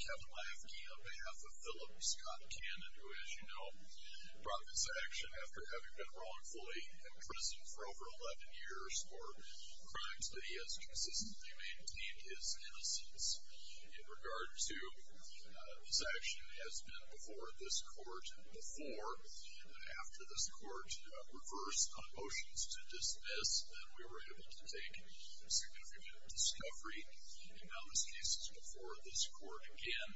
Kevin Laefke on behalf of Philip Scott Cannon, who, as you know, brought this action after having been wrongfully imprisoned for over 11 years for crimes that he has consistently maintained his innocence in regard to, this action has been before this court before, and after this court reversed on motions to dismiss, then we were able to take significant discovery in various cases before this court again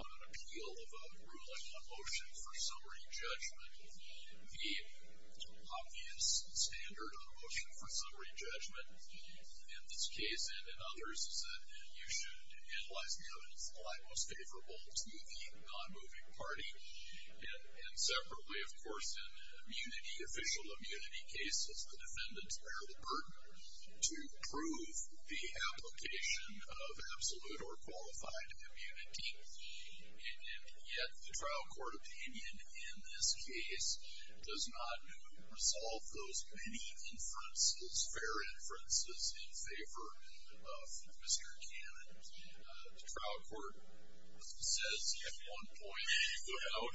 on an appeal of a ruling on motion for summary judgment. The obvious standard on motion for summary judgment in this case and in others is that you should analyze the evidence in the light most favorable to the non-moving party, and separately, of course, in immunity, official immunity cases the defendants bear the burden to prove that this is a case that the application of absolute or qualified immunity. And yet, the trial court opinion in this case does not resolve those many inferences, fair inferences, in favor of Mr. Cannon. The trial court says at one point, well,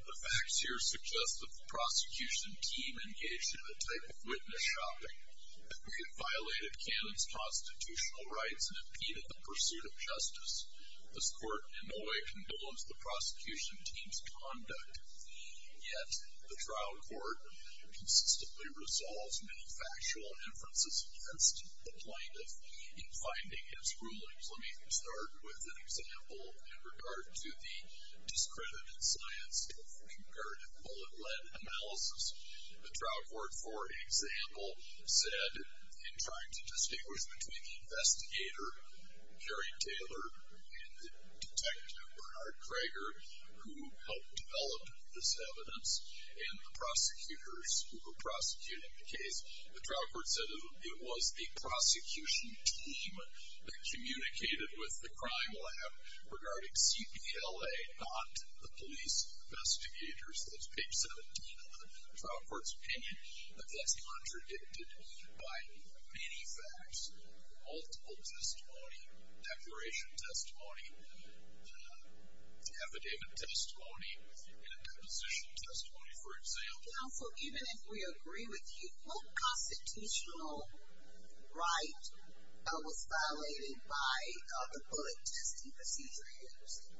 the facts here suggest that the prosecution team engaged in a type of witness shopping that we had violated Cannon's constitutional rights and impeded the pursuit of justice. This court in no way condones the prosecution team's conduct. Yet, the trial court consistently resolves many factual inferences against the plaintiff in finding his rulings. Let me start with an example in regard to the discredited science of comparative bullet lead analysis. The trial court, for example, said in trying to judge the distinguish between the investigator, Kerry Taylor, and the detective, Bernard Krager, who helped develop this evidence, and the prosecutors who were prosecuting the case, the trial court said it was the prosecution team that communicated with the crime lab regarding CPLA, not the police investigators. That's page 17 of the trial court's opinion, but that's contradicted by many facts. Multiple testimony, declaration testimony, affidavit testimony, and a deposition testimony, for example. Counsel, even if we agree with you, what constitutional right was violated by the bullet testing procedure used?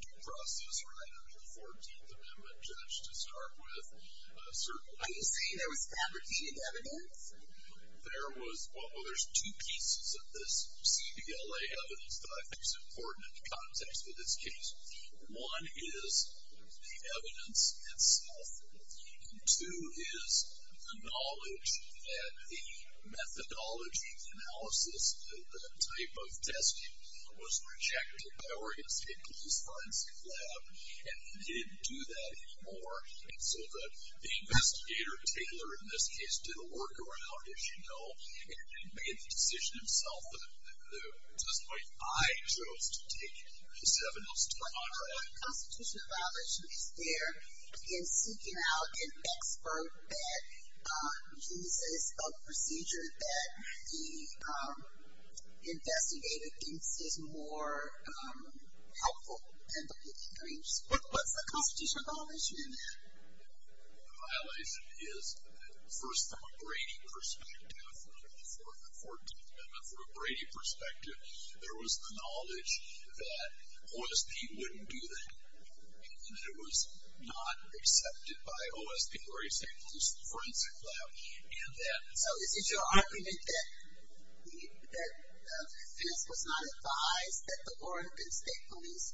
The process right under the 14th Amendment, Judge, to start with. Are you saying there was fabricated evidence? There was, well, there's two pieces of this CPLA evidence that I think is important in the context of this case. One is the evidence itself. Two is the knowledge that a methodology analysis type of testing was rejected by Oregon State Police Forensic Lab, and they didn't do that anymore. And so the investigator, Taylor, in this case, did a workaround, as you know, and made the decision himself. At this point, I chose to take his evidence. What constitutional violation is there in seeking out an expert that uses a procedure that the investigator thinks is more helpful than the police? What's the constitutional violation in that? The violation is, first from a Brady perspective, from the 14th Amendment, from a Brady perspective, there was the knowledge that OSP wouldn't do that, and that it was not accepted by OSP, Oregon State Police Forensic Lab. So is it your argument that this was not advised, that the Oregon State Police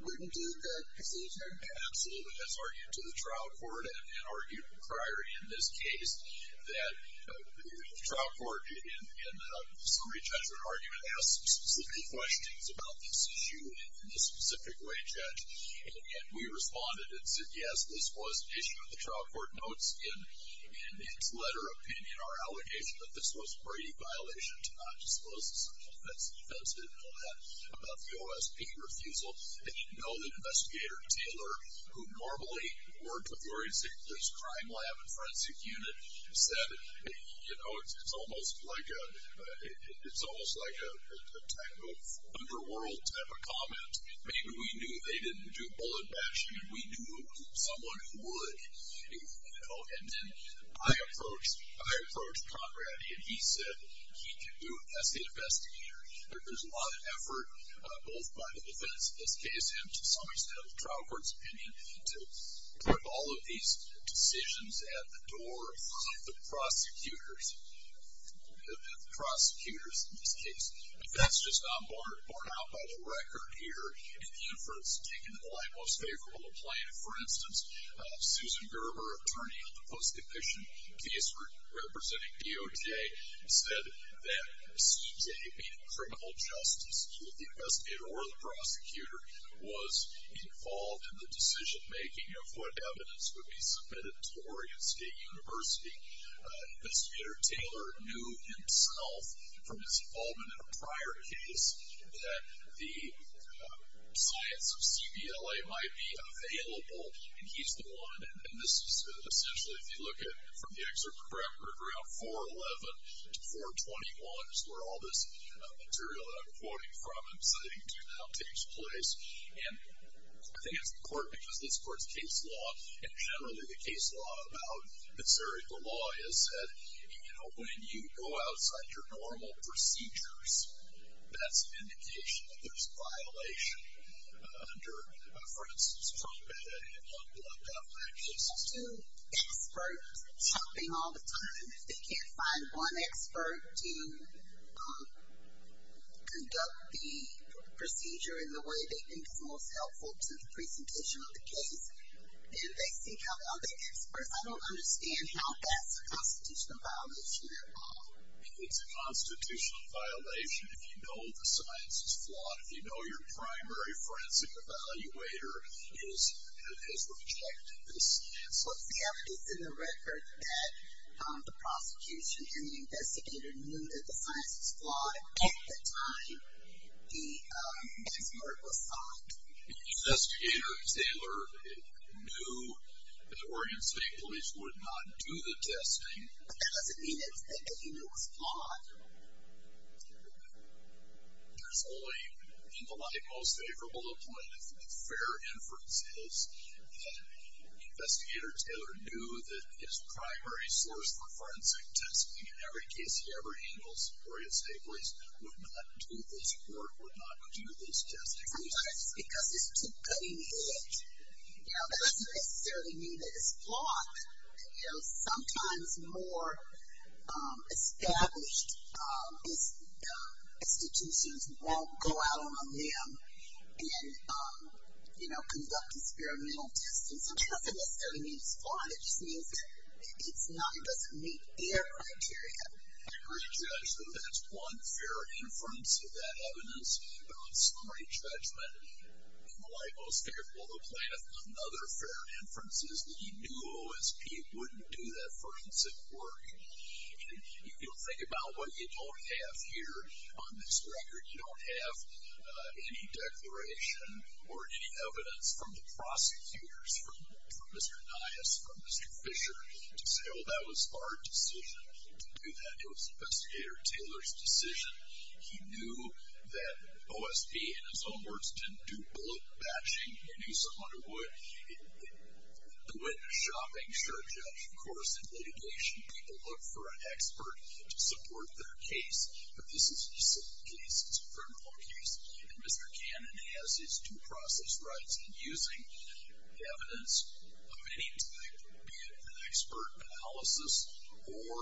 wouldn't do the procedure? Absolutely. That's argued to the trial court and argued prior in this case. The trial court, in the summary judgment argument, asked specific questions about this issue in a specific way, Judge. And yet, we responded and said, yes, this was an issue that the trial court notes in its letter of opinion, our allegation that this was a Brady violation to not dispose of something that's defensive and all that, about the OSP refusal. And you know that Investigator Taylor, who normally worked with Oregon State Police Crime Lab and Forensic Unit, said, you know, it's almost like a type of underworld type of comment. Maybe we knew they didn't do bullet bashing, and we knew someone who would. And then I approached Conrad, and he said he could do it as the investigator. There's a lot of effort, both by the defense in this case and to some extent of the trial court's opinion, to put all of these decisions at the door of the prosecutors, the prosecutors in this case. But that's just not borne out by the record here, and the efforts taken in the light most favorable to plan. For instance, Susan Gerber, attorney of the post-depiction case representing DOJ, said that CJ, being a criminal justice, either the investigator or the prosecutor, was involved in the decision-making of what evidence would be submitted to Oregon State University. Investigator Taylor knew himself from his involvement in a prior case that the science of CBLA might be available, and he's the one. And this is essentially, if you look at from the excerpt from the record, around 411 to 421 is where all this material that I'm quoting from and citing to now takes place. And I think it's important because this court's case law, and generally the case law about Missouri, the law has said, you know, when you go outside your normal procedures, that's an indication that there's a violation under, for instance, trumpet and unblocked affliction. There's two experts helping all the time. They can't find one expert to conduct the procedure in the way they think is most helpful to the presentation of the case. And they seek out other experts. I don't understand how that's a constitutional violation at all. It's a constitutional violation if you know the science is flawed. If you know your primary forensic evaluator has rejected this. So CBLA is in the record that the prosecution and the investigator knew that the science was flawed. At the time, the expert was sought. The investigator, Taylor, knew that Oregon State Police would not do the testing. But that doesn't mean that he knew it was flawed. There's only, in the light most favorable of point of fair inferences, that the investigator, Taylor, knew that his primary source for forensic testing in every case he ever handles, Oregon State Police, would not do this court, would not do this testing. Sometimes it's because it's too cutting edge. You know, that doesn't necessarily mean that it's flawed. You know, sometimes more established institutions won't go out on a limb and, you know, conduct experimental testing. So it doesn't necessarily mean it's flawed. It just means that it's not, it doesn't meet their criteria. I agree, Judge, that that's one fair inference of that evidence. But on summary judgment, in the light most favorable of plan, another fair inference is that he knew OSP wouldn't do that forensic work. You know, think about what you don't have here on this record. You don't have any declaration or any evidence from the prosecutors, from Mr. Nias, from Mr. Fisher, to say, well, that was our decision to do that. It was Investigator Taylor's decision. He knew that OSP, in his own words, didn't do bullet batching. He knew someone who would do it in a shopping. Sure, Judge, of course, in litigation, people look for an expert to support their case. But this is a civil case. It's a criminal case. And Mr. Cannon has his due process rights in using the evidence of any type, be it an expert analysis or,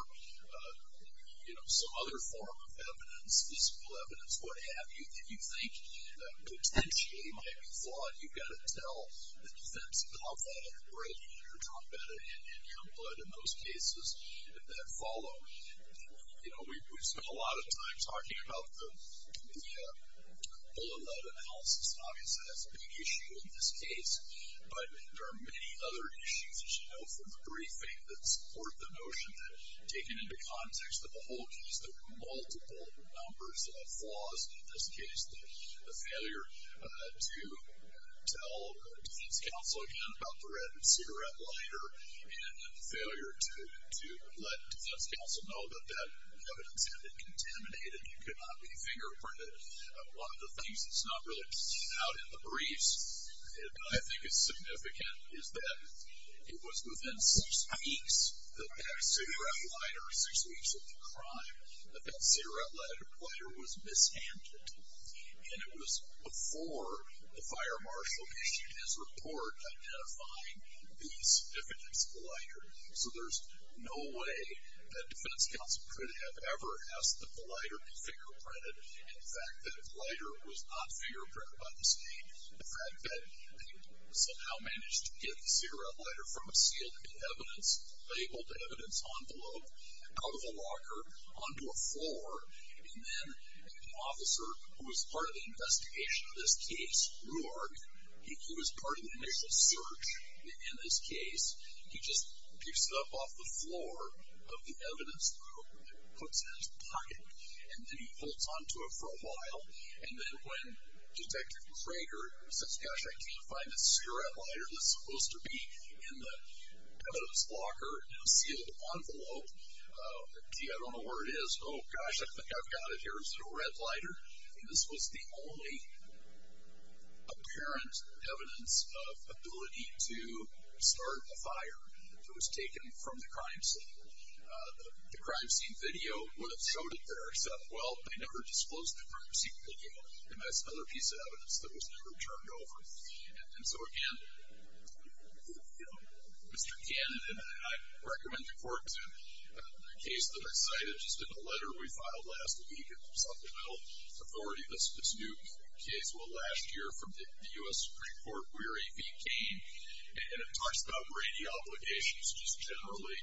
you know, some other form of evidence, physical evidence, what have you, that you think potentially might be flawed. You've got to tell the defense about that and break it or drop it in your blood in those cases that follow. You know, we've spent a lot of time talking about the bullet lead analysis. Obviously, that's a big issue in this case. But there are many other issues, as you know, from the briefing that support the notion that, taken into context of the whole case, there were multiple numbers of flaws. In this case, the failure to tell defense counsel again about the red cigarette lighter and the failure to let defense counsel know that that evidence had been contaminated. It could not be fingerprinted. One of the things that's not really out in the briefs that I think is significant is that it was within six weeks that that cigarette lighter, six weeks of the crime, that that cigarette lighter was mishandled. And it was before the fire marshal issued his report identifying the significance of the lighter. So there's no way that defense counsel could have ever asked that the lighter be fingerprinted. And the fact that the lighter was not fingerprinted by the state, the fact that they somehow managed to get the cigarette lighter from a sealed evidence, labeled evidence envelope, out of a locker, onto a floor, and then an officer who was part of the investigation of this case, Ruark, who was part of the initial search in this case, he just picks it up off the floor of the evidence locker and puts it in his pocket, and then he holds onto it for a while, and then when Detective Crager says, gosh, I can't find this cigarette lighter that's supposed to be in the evidence locker, it's in a sealed envelope, I don't know where it is, oh gosh, I think I've got it here, is it a red lighter? This was the only apparent evidence of ability to start a fire that was taken from the crime scene. The crime scene video would have showed it there, except, well, they never disclosed the crime scene video, and that's another piece of evidence that was never turned over. And so again, Mr. Candidate, I recommend the court to the case that I cited just in the letter we filed last week at the Supplemental Authority, this new case, well, last year from the U.S. Supreme Court, where AV came, and it talks about Brady obligations, just generally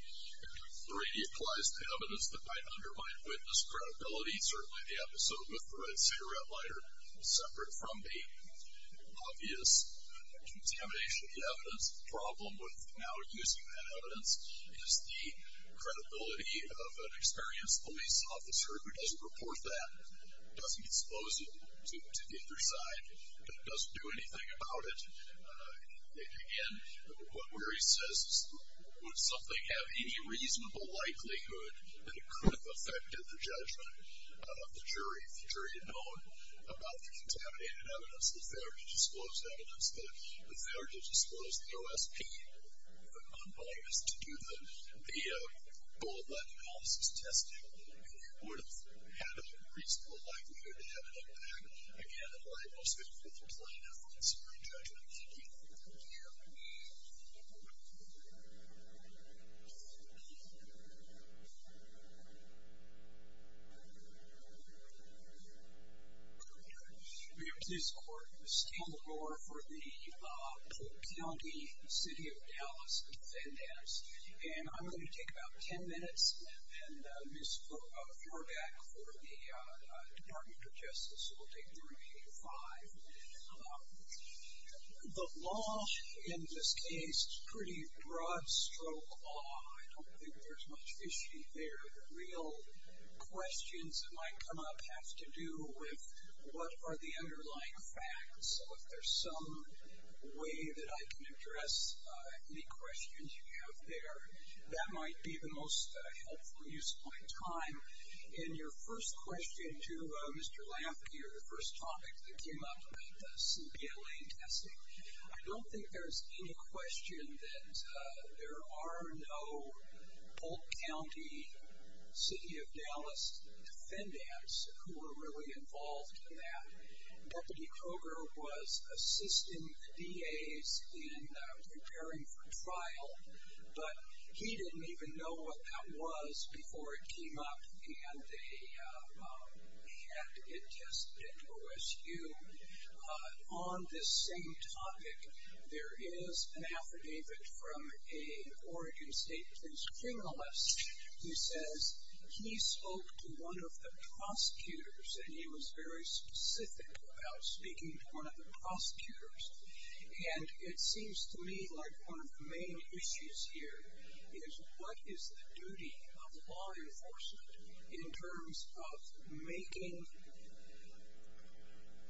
Brady applies to evidence that might undermine witness credibility, certainly the episode with the red cigarette lighter, separate from the obvious contamination of the evidence. The problem with now using that evidence is the credibility of an experienced police officer who doesn't report that, doesn't expose it to the other side, doesn't do anything about it. Again, where he says, would something have any reasonable likelihood that it could have affected the judgment of the jury, if the jury had known about the contaminated evidence, if they were to disclose evidence that, if they were to disclose the OSP, the unbiased, to do the full ethnic analysis testing, it would have had a reasonable likelihood to have an impact, again, in light of the plaintiff's Supreme Judgment. Thank you. Thank you. We have a case in court, Ms. Kendall Gore, for the Polk County, City of Dallas, defendant. And I'm going to take about ten minutes, and Ms. Furback for the Department of Justice will take the remaining five. The law in this case is pretty broad stroke law. I don't think there's much fishy there. The real questions that might come up have to do with, what are the underlying facts? So if there's some way that I can address any questions you have there, that might be the most helpful use of my time. And your first question to Mr. Lampe, your first topic that came up about the CBLA testing, I don't think there's any question that there are no Polk County, City of Dallas defendants who were really involved in that. Robert E. Kroger was assisting the DAs in preparing for trial, but he didn't even know what that was before it came up, and they had to get tested at OSU. On this same topic, there is an affidavit from a Oregon State police criminalist who says he spoke to one of the prosecutors, and he was very specific about speaking to one of the prosecutors. And it seems to me like one of the main issues here is what is the duty of law enforcement in terms of making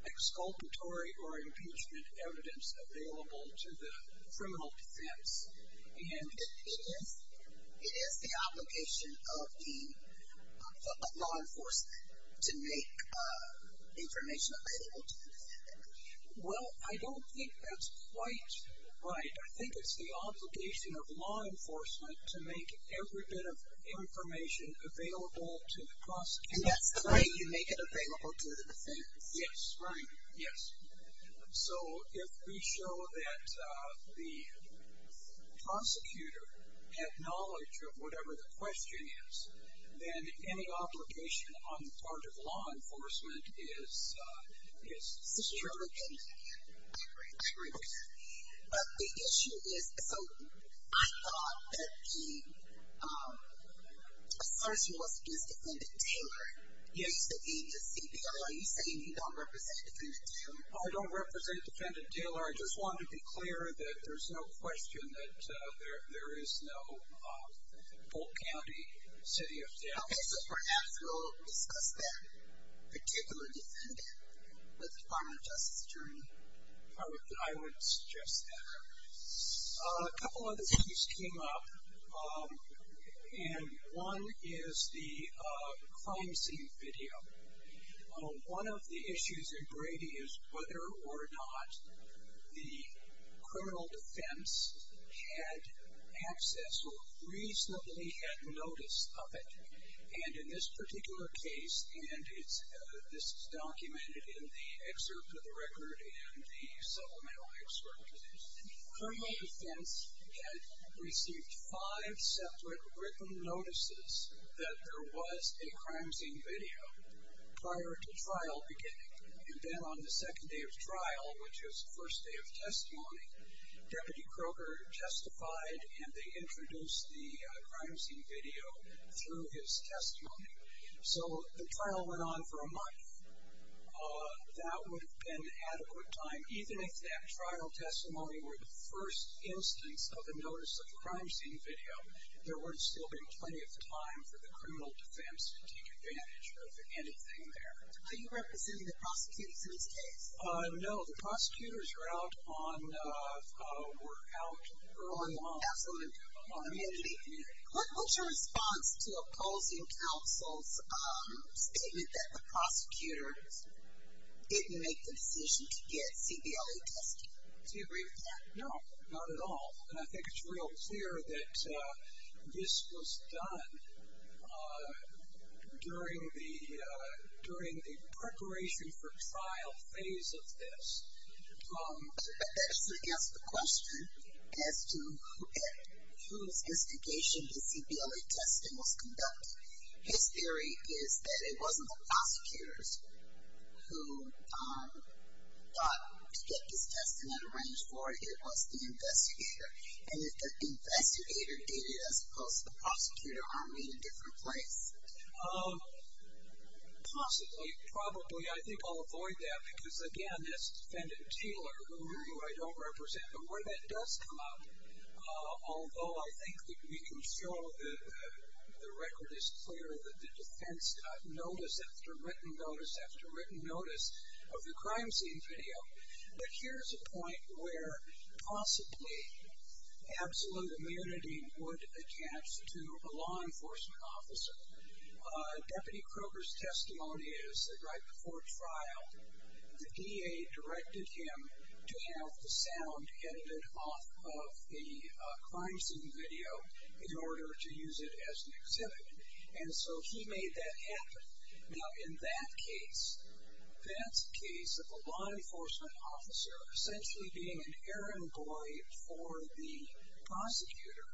exculpatory or impeachment evidence available to the criminal defense? It is the obligation of law enforcement to make information available to the defendants. Well, I don't think that's quite right. I think it's the obligation of law enforcement to make every bit of information available to the prosecutor. And that's the way you make it available to the defense. Yes, right, yes. So, if we show that the prosecutor had knowledge of whatever the question is, then any obligation on the part of law enforcement is true. I agree with that. But the issue is, so, I thought that the assertion was against Defendant Taylor. Yeah, you said he's a CPO. Are you saying you don't represent Defendant Taylor? I don't represent Defendant Taylor. I just wanted to be clear that there's no question that there is no Fulton County City of Dallas. Okay, so perhaps we'll discuss that particular defendant with the Department of Justice attorney. I would suggest that. A couple other things came up. And one is the crime scene video. One of the issues in Brady is whether or not the criminal defense had access or reasonably had notice of it. And in this particular case, and this is documented in the excerpt of the record and the supplemental excerpt of this, criminal defense had received five separate written notices that there was a crime scene video prior to trial beginning. And then on the second day of trial, which was the first day of testimony, Deputy Kroger justified, and they introduced the crime scene video through his testimony. So the trial went on for a month. That would have been adequate time. Even if that trial testimony were the first instance of a notice of crime scene video, there would have still been plenty of time for the criminal defense to take advantage of anything there. Are you representing the prosecutors in this case? No, the prosecutors were out early on. Absolutely. What's your response to opposing counsel's statement that the prosecutors didn't make the decision to get CBLA testing? Do you agree with that? No, not at all. And I think it's real clear that this was done during the preparation for trial phase of this. But that doesn't answer the question as to whose investigation the CBLA testing was conducted. His theory is that it wasn't the prosecutors who thought to get this testing arranged for. It was the investigator. And if the investigator did it, as opposed to the prosecutor, aren't we in a different place? Possibly. Probably. I think I'll avoid that because, again, this defendant, Taylor, who I don't represent, but where that does come out, although I think that we can show that the record is clear, that the defense got notice after written notice after written notice of the crime scene video. But here's a point where possibly absolute immunity would attach to a law enforcement officer. Deputy Kroger's testimony is that right before trial, the DA directed him to have the sound edited off of the crime scene video in order to use it as an exhibit. And so he made that happen. Now, in that case, that's a case of a law enforcement officer essentially being an errand boy for the prosecutor.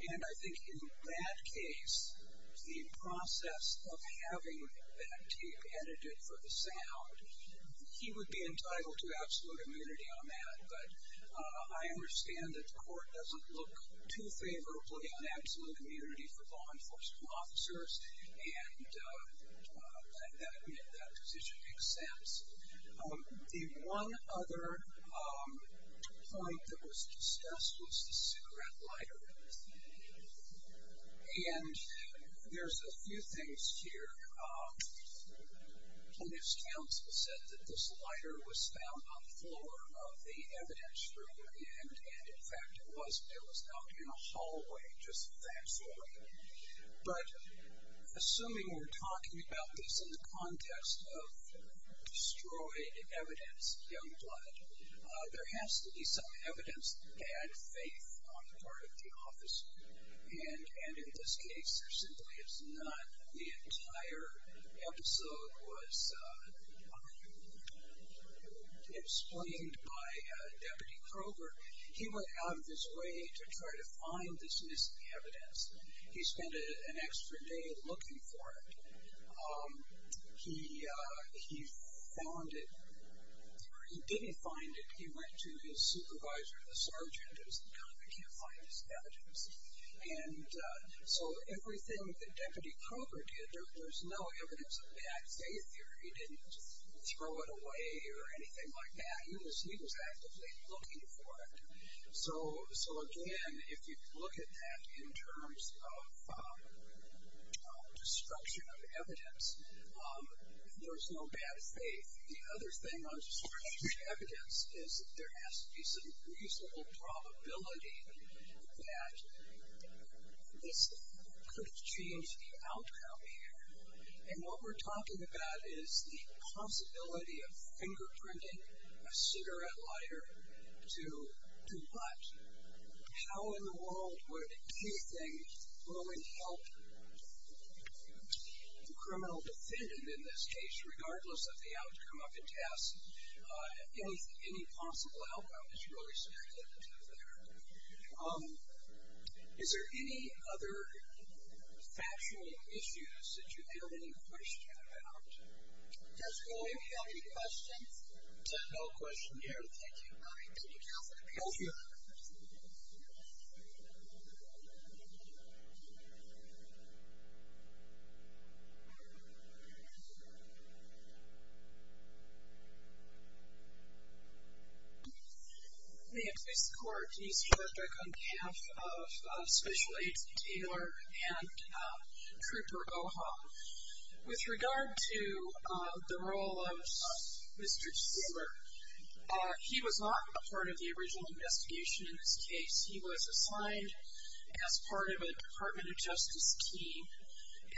And I think in that case, the process of having that tape edited for the sound, he would be entitled to absolute immunity on that. But I understand that the court doesn't look too favorably on absolute immunity for law enforcement officers, and I admit that position makes sense. The one other point that was discussed was the cigarette lighter. And there's a few things here. Plaintiff's counsel said that this lighter was found on the floor of the evidence room and, in fact, it was found in a hallway, just that hallway. But assuming we're talking about this in the context of destroyed evidence, young blood, there has to be some evidence to add faith on the part of the officer. And in this case, there simply is not. The entire episode was explained by Deputy Kroger. He went out of his way to try to find this missing evidence. He spent an extra day looking for it. He found it, or he didn't find it, he went to his supervisor, the sergeant, who's the guy that can't find this evidence. And so everything that Deputy Kroger did, there's no evidence of bad faith here. He didn't throw it away or anything like that. He was actively looking for it. So, again, if you look at that in terms of destruction of evidence, there's no bad faith. The other thing on destruction of evidence is there has to be some reasonable probability that this could have changed the outcome here. And what we're talking about is the possibility of fingerprinting a cigarette lighter to what? How in the world would anything go and help the criminal defendant in this case, regardless of the outcome of the test? Any possible outcome is really speculative there. Is there any other factual issues that you have any questions about? Judge Kohl, do you have any questions? No question here. Thank you. Thank you, counsel. Thank you. May it please the court, it is George Dirk on behalf of Special Aids, Taylor and Trooper Goha. With regard to the role of Mr. Taylor, he was not a part of the original investigation in this case. He was assigned as part of a Department of Justice team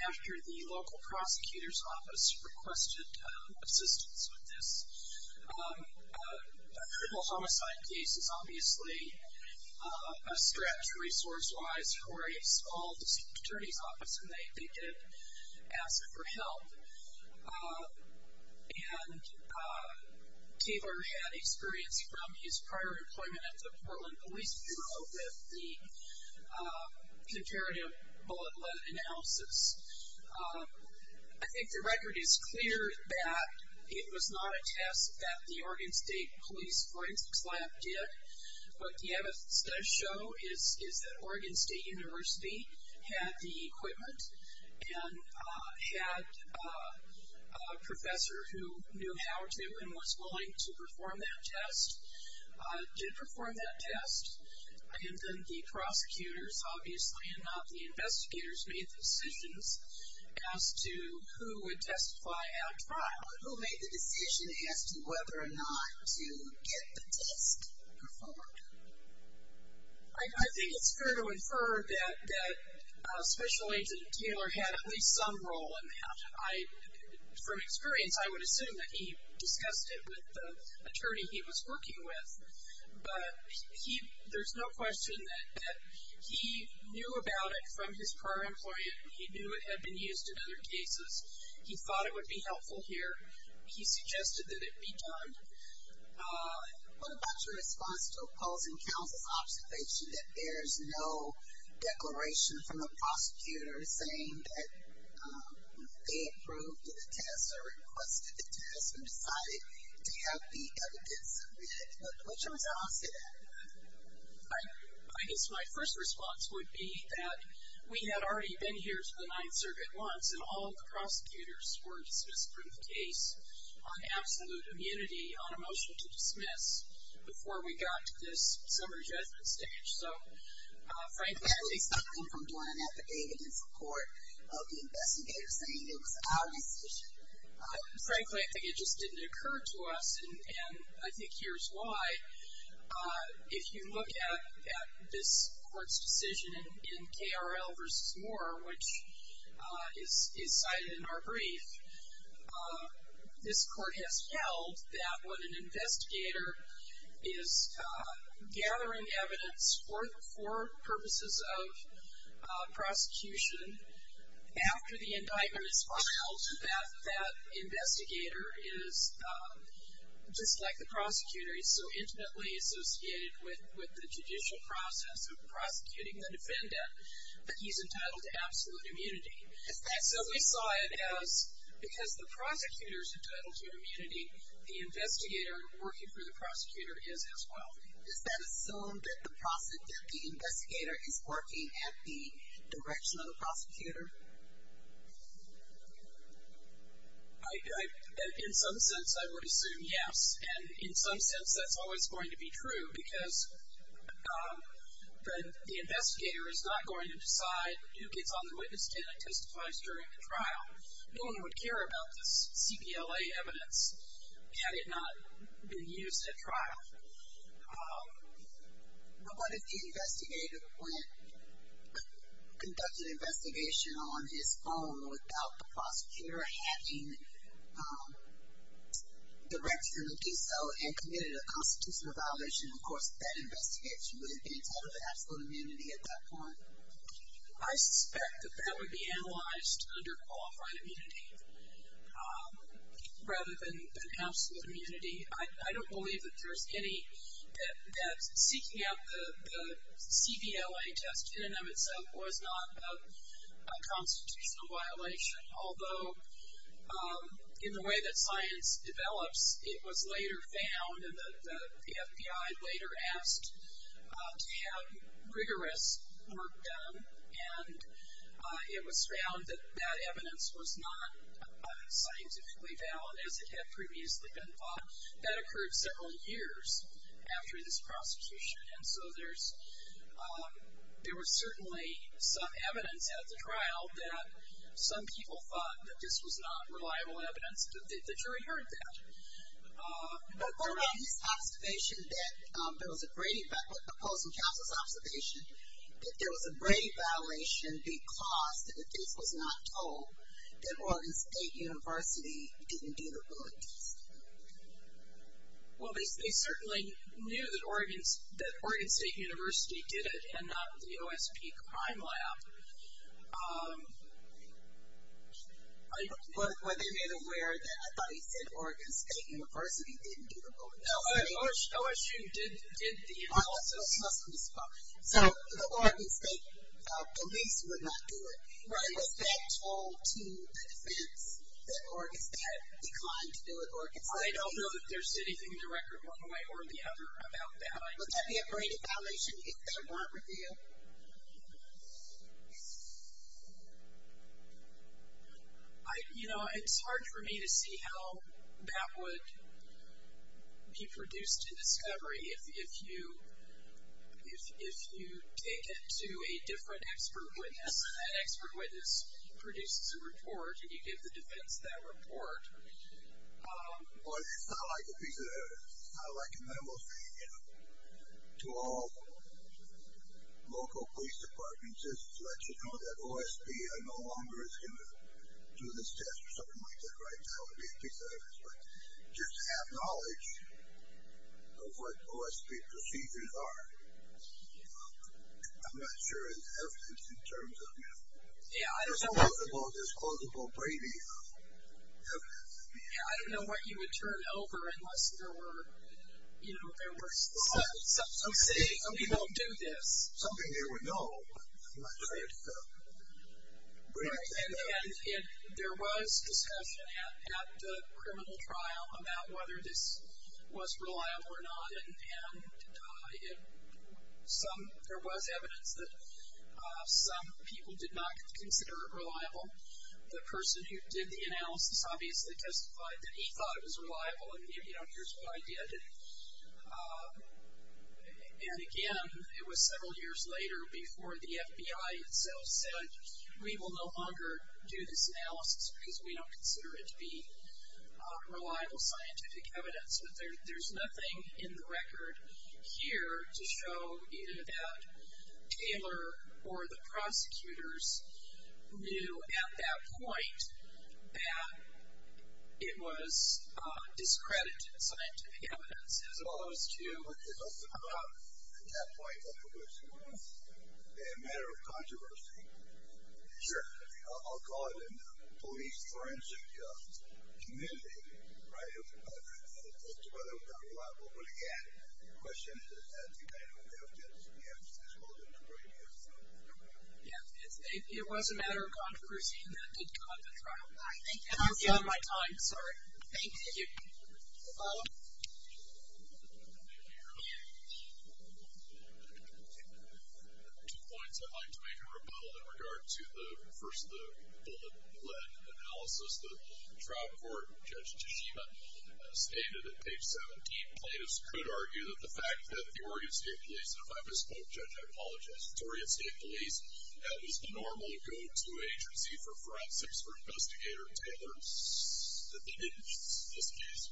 after the local prosecutor's office requested assistance with this. A criminal homicide case is obviously a stretch resource-wise for a small district attorney's office and they did ask for help. And Taylor had experience from his prior employment at the Portland Police Bureau with the comparative bulletin analysis. I think the record is clear that it was not a test that the Oregon State Police, the Oregon Police Lab did. What the evidence does show is that Oregon State University had the equipment and had a professor who knew how to and was willing to perform that test, did perform that test, and then the prosecutors obviously and not the investigators made the decisions as to who would testify at a trial. Who made the decision as to whether or not the test performed. I think it's fair to infer that Special Agent Taylor had at least some role in that. From experience, I would assume that he discussed it with the attorney he was working with. But there's no question that he knew about it from his prior employment. He knew it had been used in other cases. He thought it would be helpful here. He suggested that it be done. What about your response to opposing counsel's observation that there's no declaration from the prosecutor saying that they approved the test or requested the test and decided to have the evidence read. What's your response to that? I guess my first response would be that we had already been here to the Ninth Circuit once and all the prosecutors were dismissed from the case on absolute immunity, on a motion to dismiss before we got to this summary judgment stage. So, frankly, at least I've come from doing an affidavit in support of the investigators saying it was our decision. Frankly, I think it just didn't occur to us and I think here's why. If you look at this court's decision in KRL v. Moore, which is cited in our brief, this court has held that when an investigator is gathering evidence for purposes of prosecution, after the indictment is filed, that that investigator is, just like the prosecutor, he's so intimately associated with the judicial process of prosecuting the defendant that he's entitled to absolute immunity. Is that true? So we saw it as, because the prosecutor is entitled to immunity, the investigator working for the prosecutor is as well. Does that assume that the investigator is working at the direction of the prosecutor? In some sense I would assume yes and in some sense that's always going to be true because the investigator is not going to decide who gets on the witness stand and testifies during the trial. No one would care about this CPLA evidence had it not been used at trial. But what if the investigator went, conducted an investigation on his own without the prosecutor having directed him to do so and committed a constitutional violation? Of course, that investigator would have been entitled to absolute immunity at that point. I suspect that that would be analyzed under qualified immunity rather than absolute immunity. I don't believe that there's any, that seeking out the CPLA test in and of itself was not a constitutional violation, although in the way that science develops, it was later found, and the FBI later asked to have rigorous work done and it was found that that evidence was not scientifically valid as it had previously been thought. That occurred several years after this prosecution and so there's, there was certainly some evidence at the trial that some people thought that this was not reliable evidence. The jury heard that. But there was an observation that, there was a Brady, opposing counsel's observation that there was a Brady violation because the case was not told that Oregon State University didn't do the Willard test. Well, they certainly knew that Oregon State University did it and not the OSP Crime Lab. Were they made aware that, I thought you said Oregon State University didn't do the Willard test. OSU did the Willard test. So the Oregon State police would not do it. Was that told to the defense that Oregon State declined to do it? I don't know that there's anything to record one way or the other about that. Would that be a Brady violation if there weren't review? You know, it's hard for me to imagine how that would be produced in discovery if you take it to a different expert witness and that expert witness produces a report and you give the defense that report. Well, it's not like a piece of evidence. It's not like a memo saying, you know, to all local police departments, just let you know that OSP no longer is going to do this test or something like that right now would be a piece of evidence. But just to have knowledge of what OSP procedures are, I'm not sure it's evidence in terms of, you know, there's a lot about this plausible Brady evidence. Yeah, I don't know what you would turn over unless there were, you know, there were some saying we won't do this. Something they would know, but I'm not sure it's Brady. And there was discussion at the criminal trial about whether this was reliable or not. And some, there was evidence that some people did not consider it reliable. The person who did the analysis obviously testified that he thought it was reliable. And, you know, here's what I did. And again, it was several years later before the FBI itself said we will no longer do this analysis because we don't consider it to be reliable scientific evidence. But there's nothing in the record here to show either that Taylor or the prosecutors knew at that point that it was discredited scientific evidence as opposed to what this was about at that point. In other words, a matter of controversy. Sure. I'll call it a police forensic community. Right? As to whether it was reliable or not. Again, the question is as to whether or not there was evidence as well as the Brady evidence. Yeah, it was a matter of controversy and that did come to trial. I think that's the end of my time. Sorry. Thank you. Two points I'd like to make in rebuttal in regard to the first of the bullet-led analysis that the trial court, Judge Toshiba, stated at page 17. Plaintiffs could argue that the fact that the Oregon State Police, and if I misspoke, Judge, I apologize, it's Oregon State Police, that was the normal go-to agency for forensics for Investigator Taylor, in this case,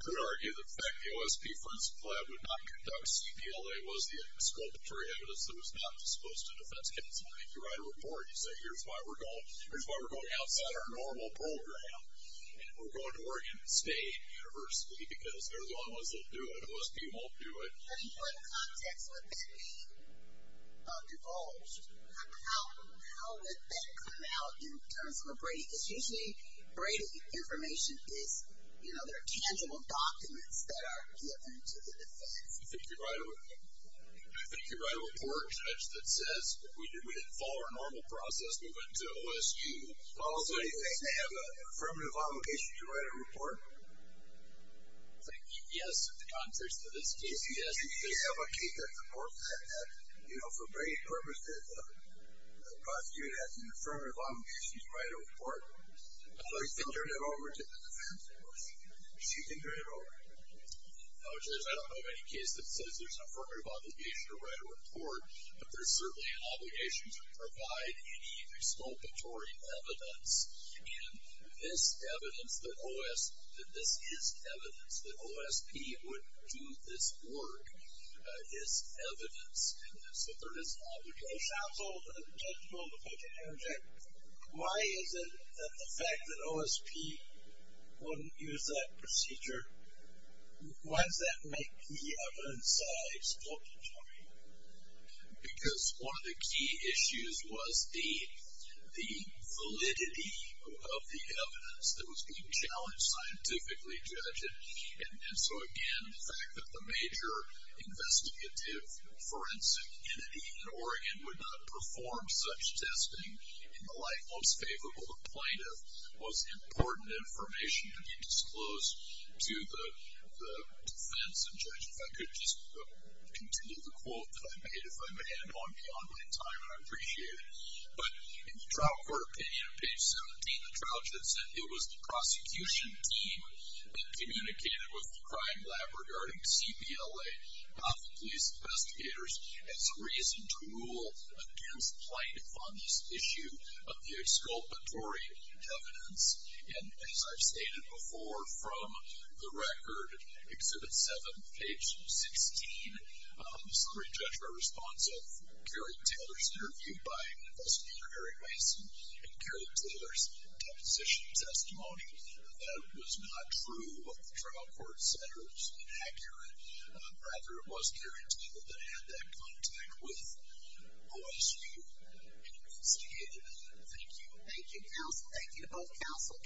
could argue that the fact that the OSP Forensic Lab would not conduct CPLA was the exculpatory evidence that was not disposed to defense counsel. If you write a report, you say here's why we're going outside our normal program and we're going to Oregon State University because they're the only ones that do it. OSP won't do it. In what context would that be divulged? How would that come out in terms of a Brady case? The information is, there are tangible documents that are given to the defense. I think you write a report, Judge, that says we didn't follow our normal process moving to OSU. Also, do you think they have an affirmative obligation to write a report? Yes, in the context of this case, yes, they have a KPAC report that for Brady's purpose, the prosecutor has an affirmative obligation to write a report. They have an affirmative obligation to the defense, of course. Do you think they're in Oregon? No, Judge, I don't know of any case that says there's an affirmative obligation to write a report, but there's certainly an obligation to provide any exculpatory evidence. And this evidence, that this is evidence that OSP would do this work, is evidence that there is an obligation. That sounds old. That sounds old, but I can interject. I wouldn't use that procedure. Why does that make the evidence exculpatory? Because one of the key issues was the validity of the evidence that was being challenged scientifically, Judge. And so, again, the fact that the major investigative forensic entity in Oregon would not perform such testing in the light most favorable to plaintiff was important and it was an obligation to be disclosed to the defense and judge. If I could just continue the quote that I made, if I may, I'm beyond my time and I appreciate it. But in the trial court opinion, page 17, the trial judge had said it was the prosecution team that communicated with the crime lab regarding CPLA, Office of Police Investigators, as a reason to rule against plaintiff on this issue of the exculpatory evidence. And as I've stated before from the record, Exhibit 7, page 16, the Supreme Judge by response of Kerry Taylor's interview by Investigator Eric Mason and Kerry Taylor's deposition testimony, that it was not true what the trial court said or it was inaccurate. Rather, it was Kerry Taylor that had that contact with OSU investigators. Thank you. Thank you, counsel. Thank you to both counsel.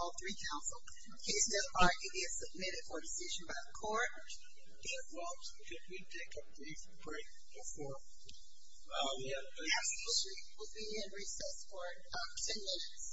All three counsel. Is this argument submitted for decision by the court? It was. Can we take a brief break before we have questions? We'll be in recess for ten minutes.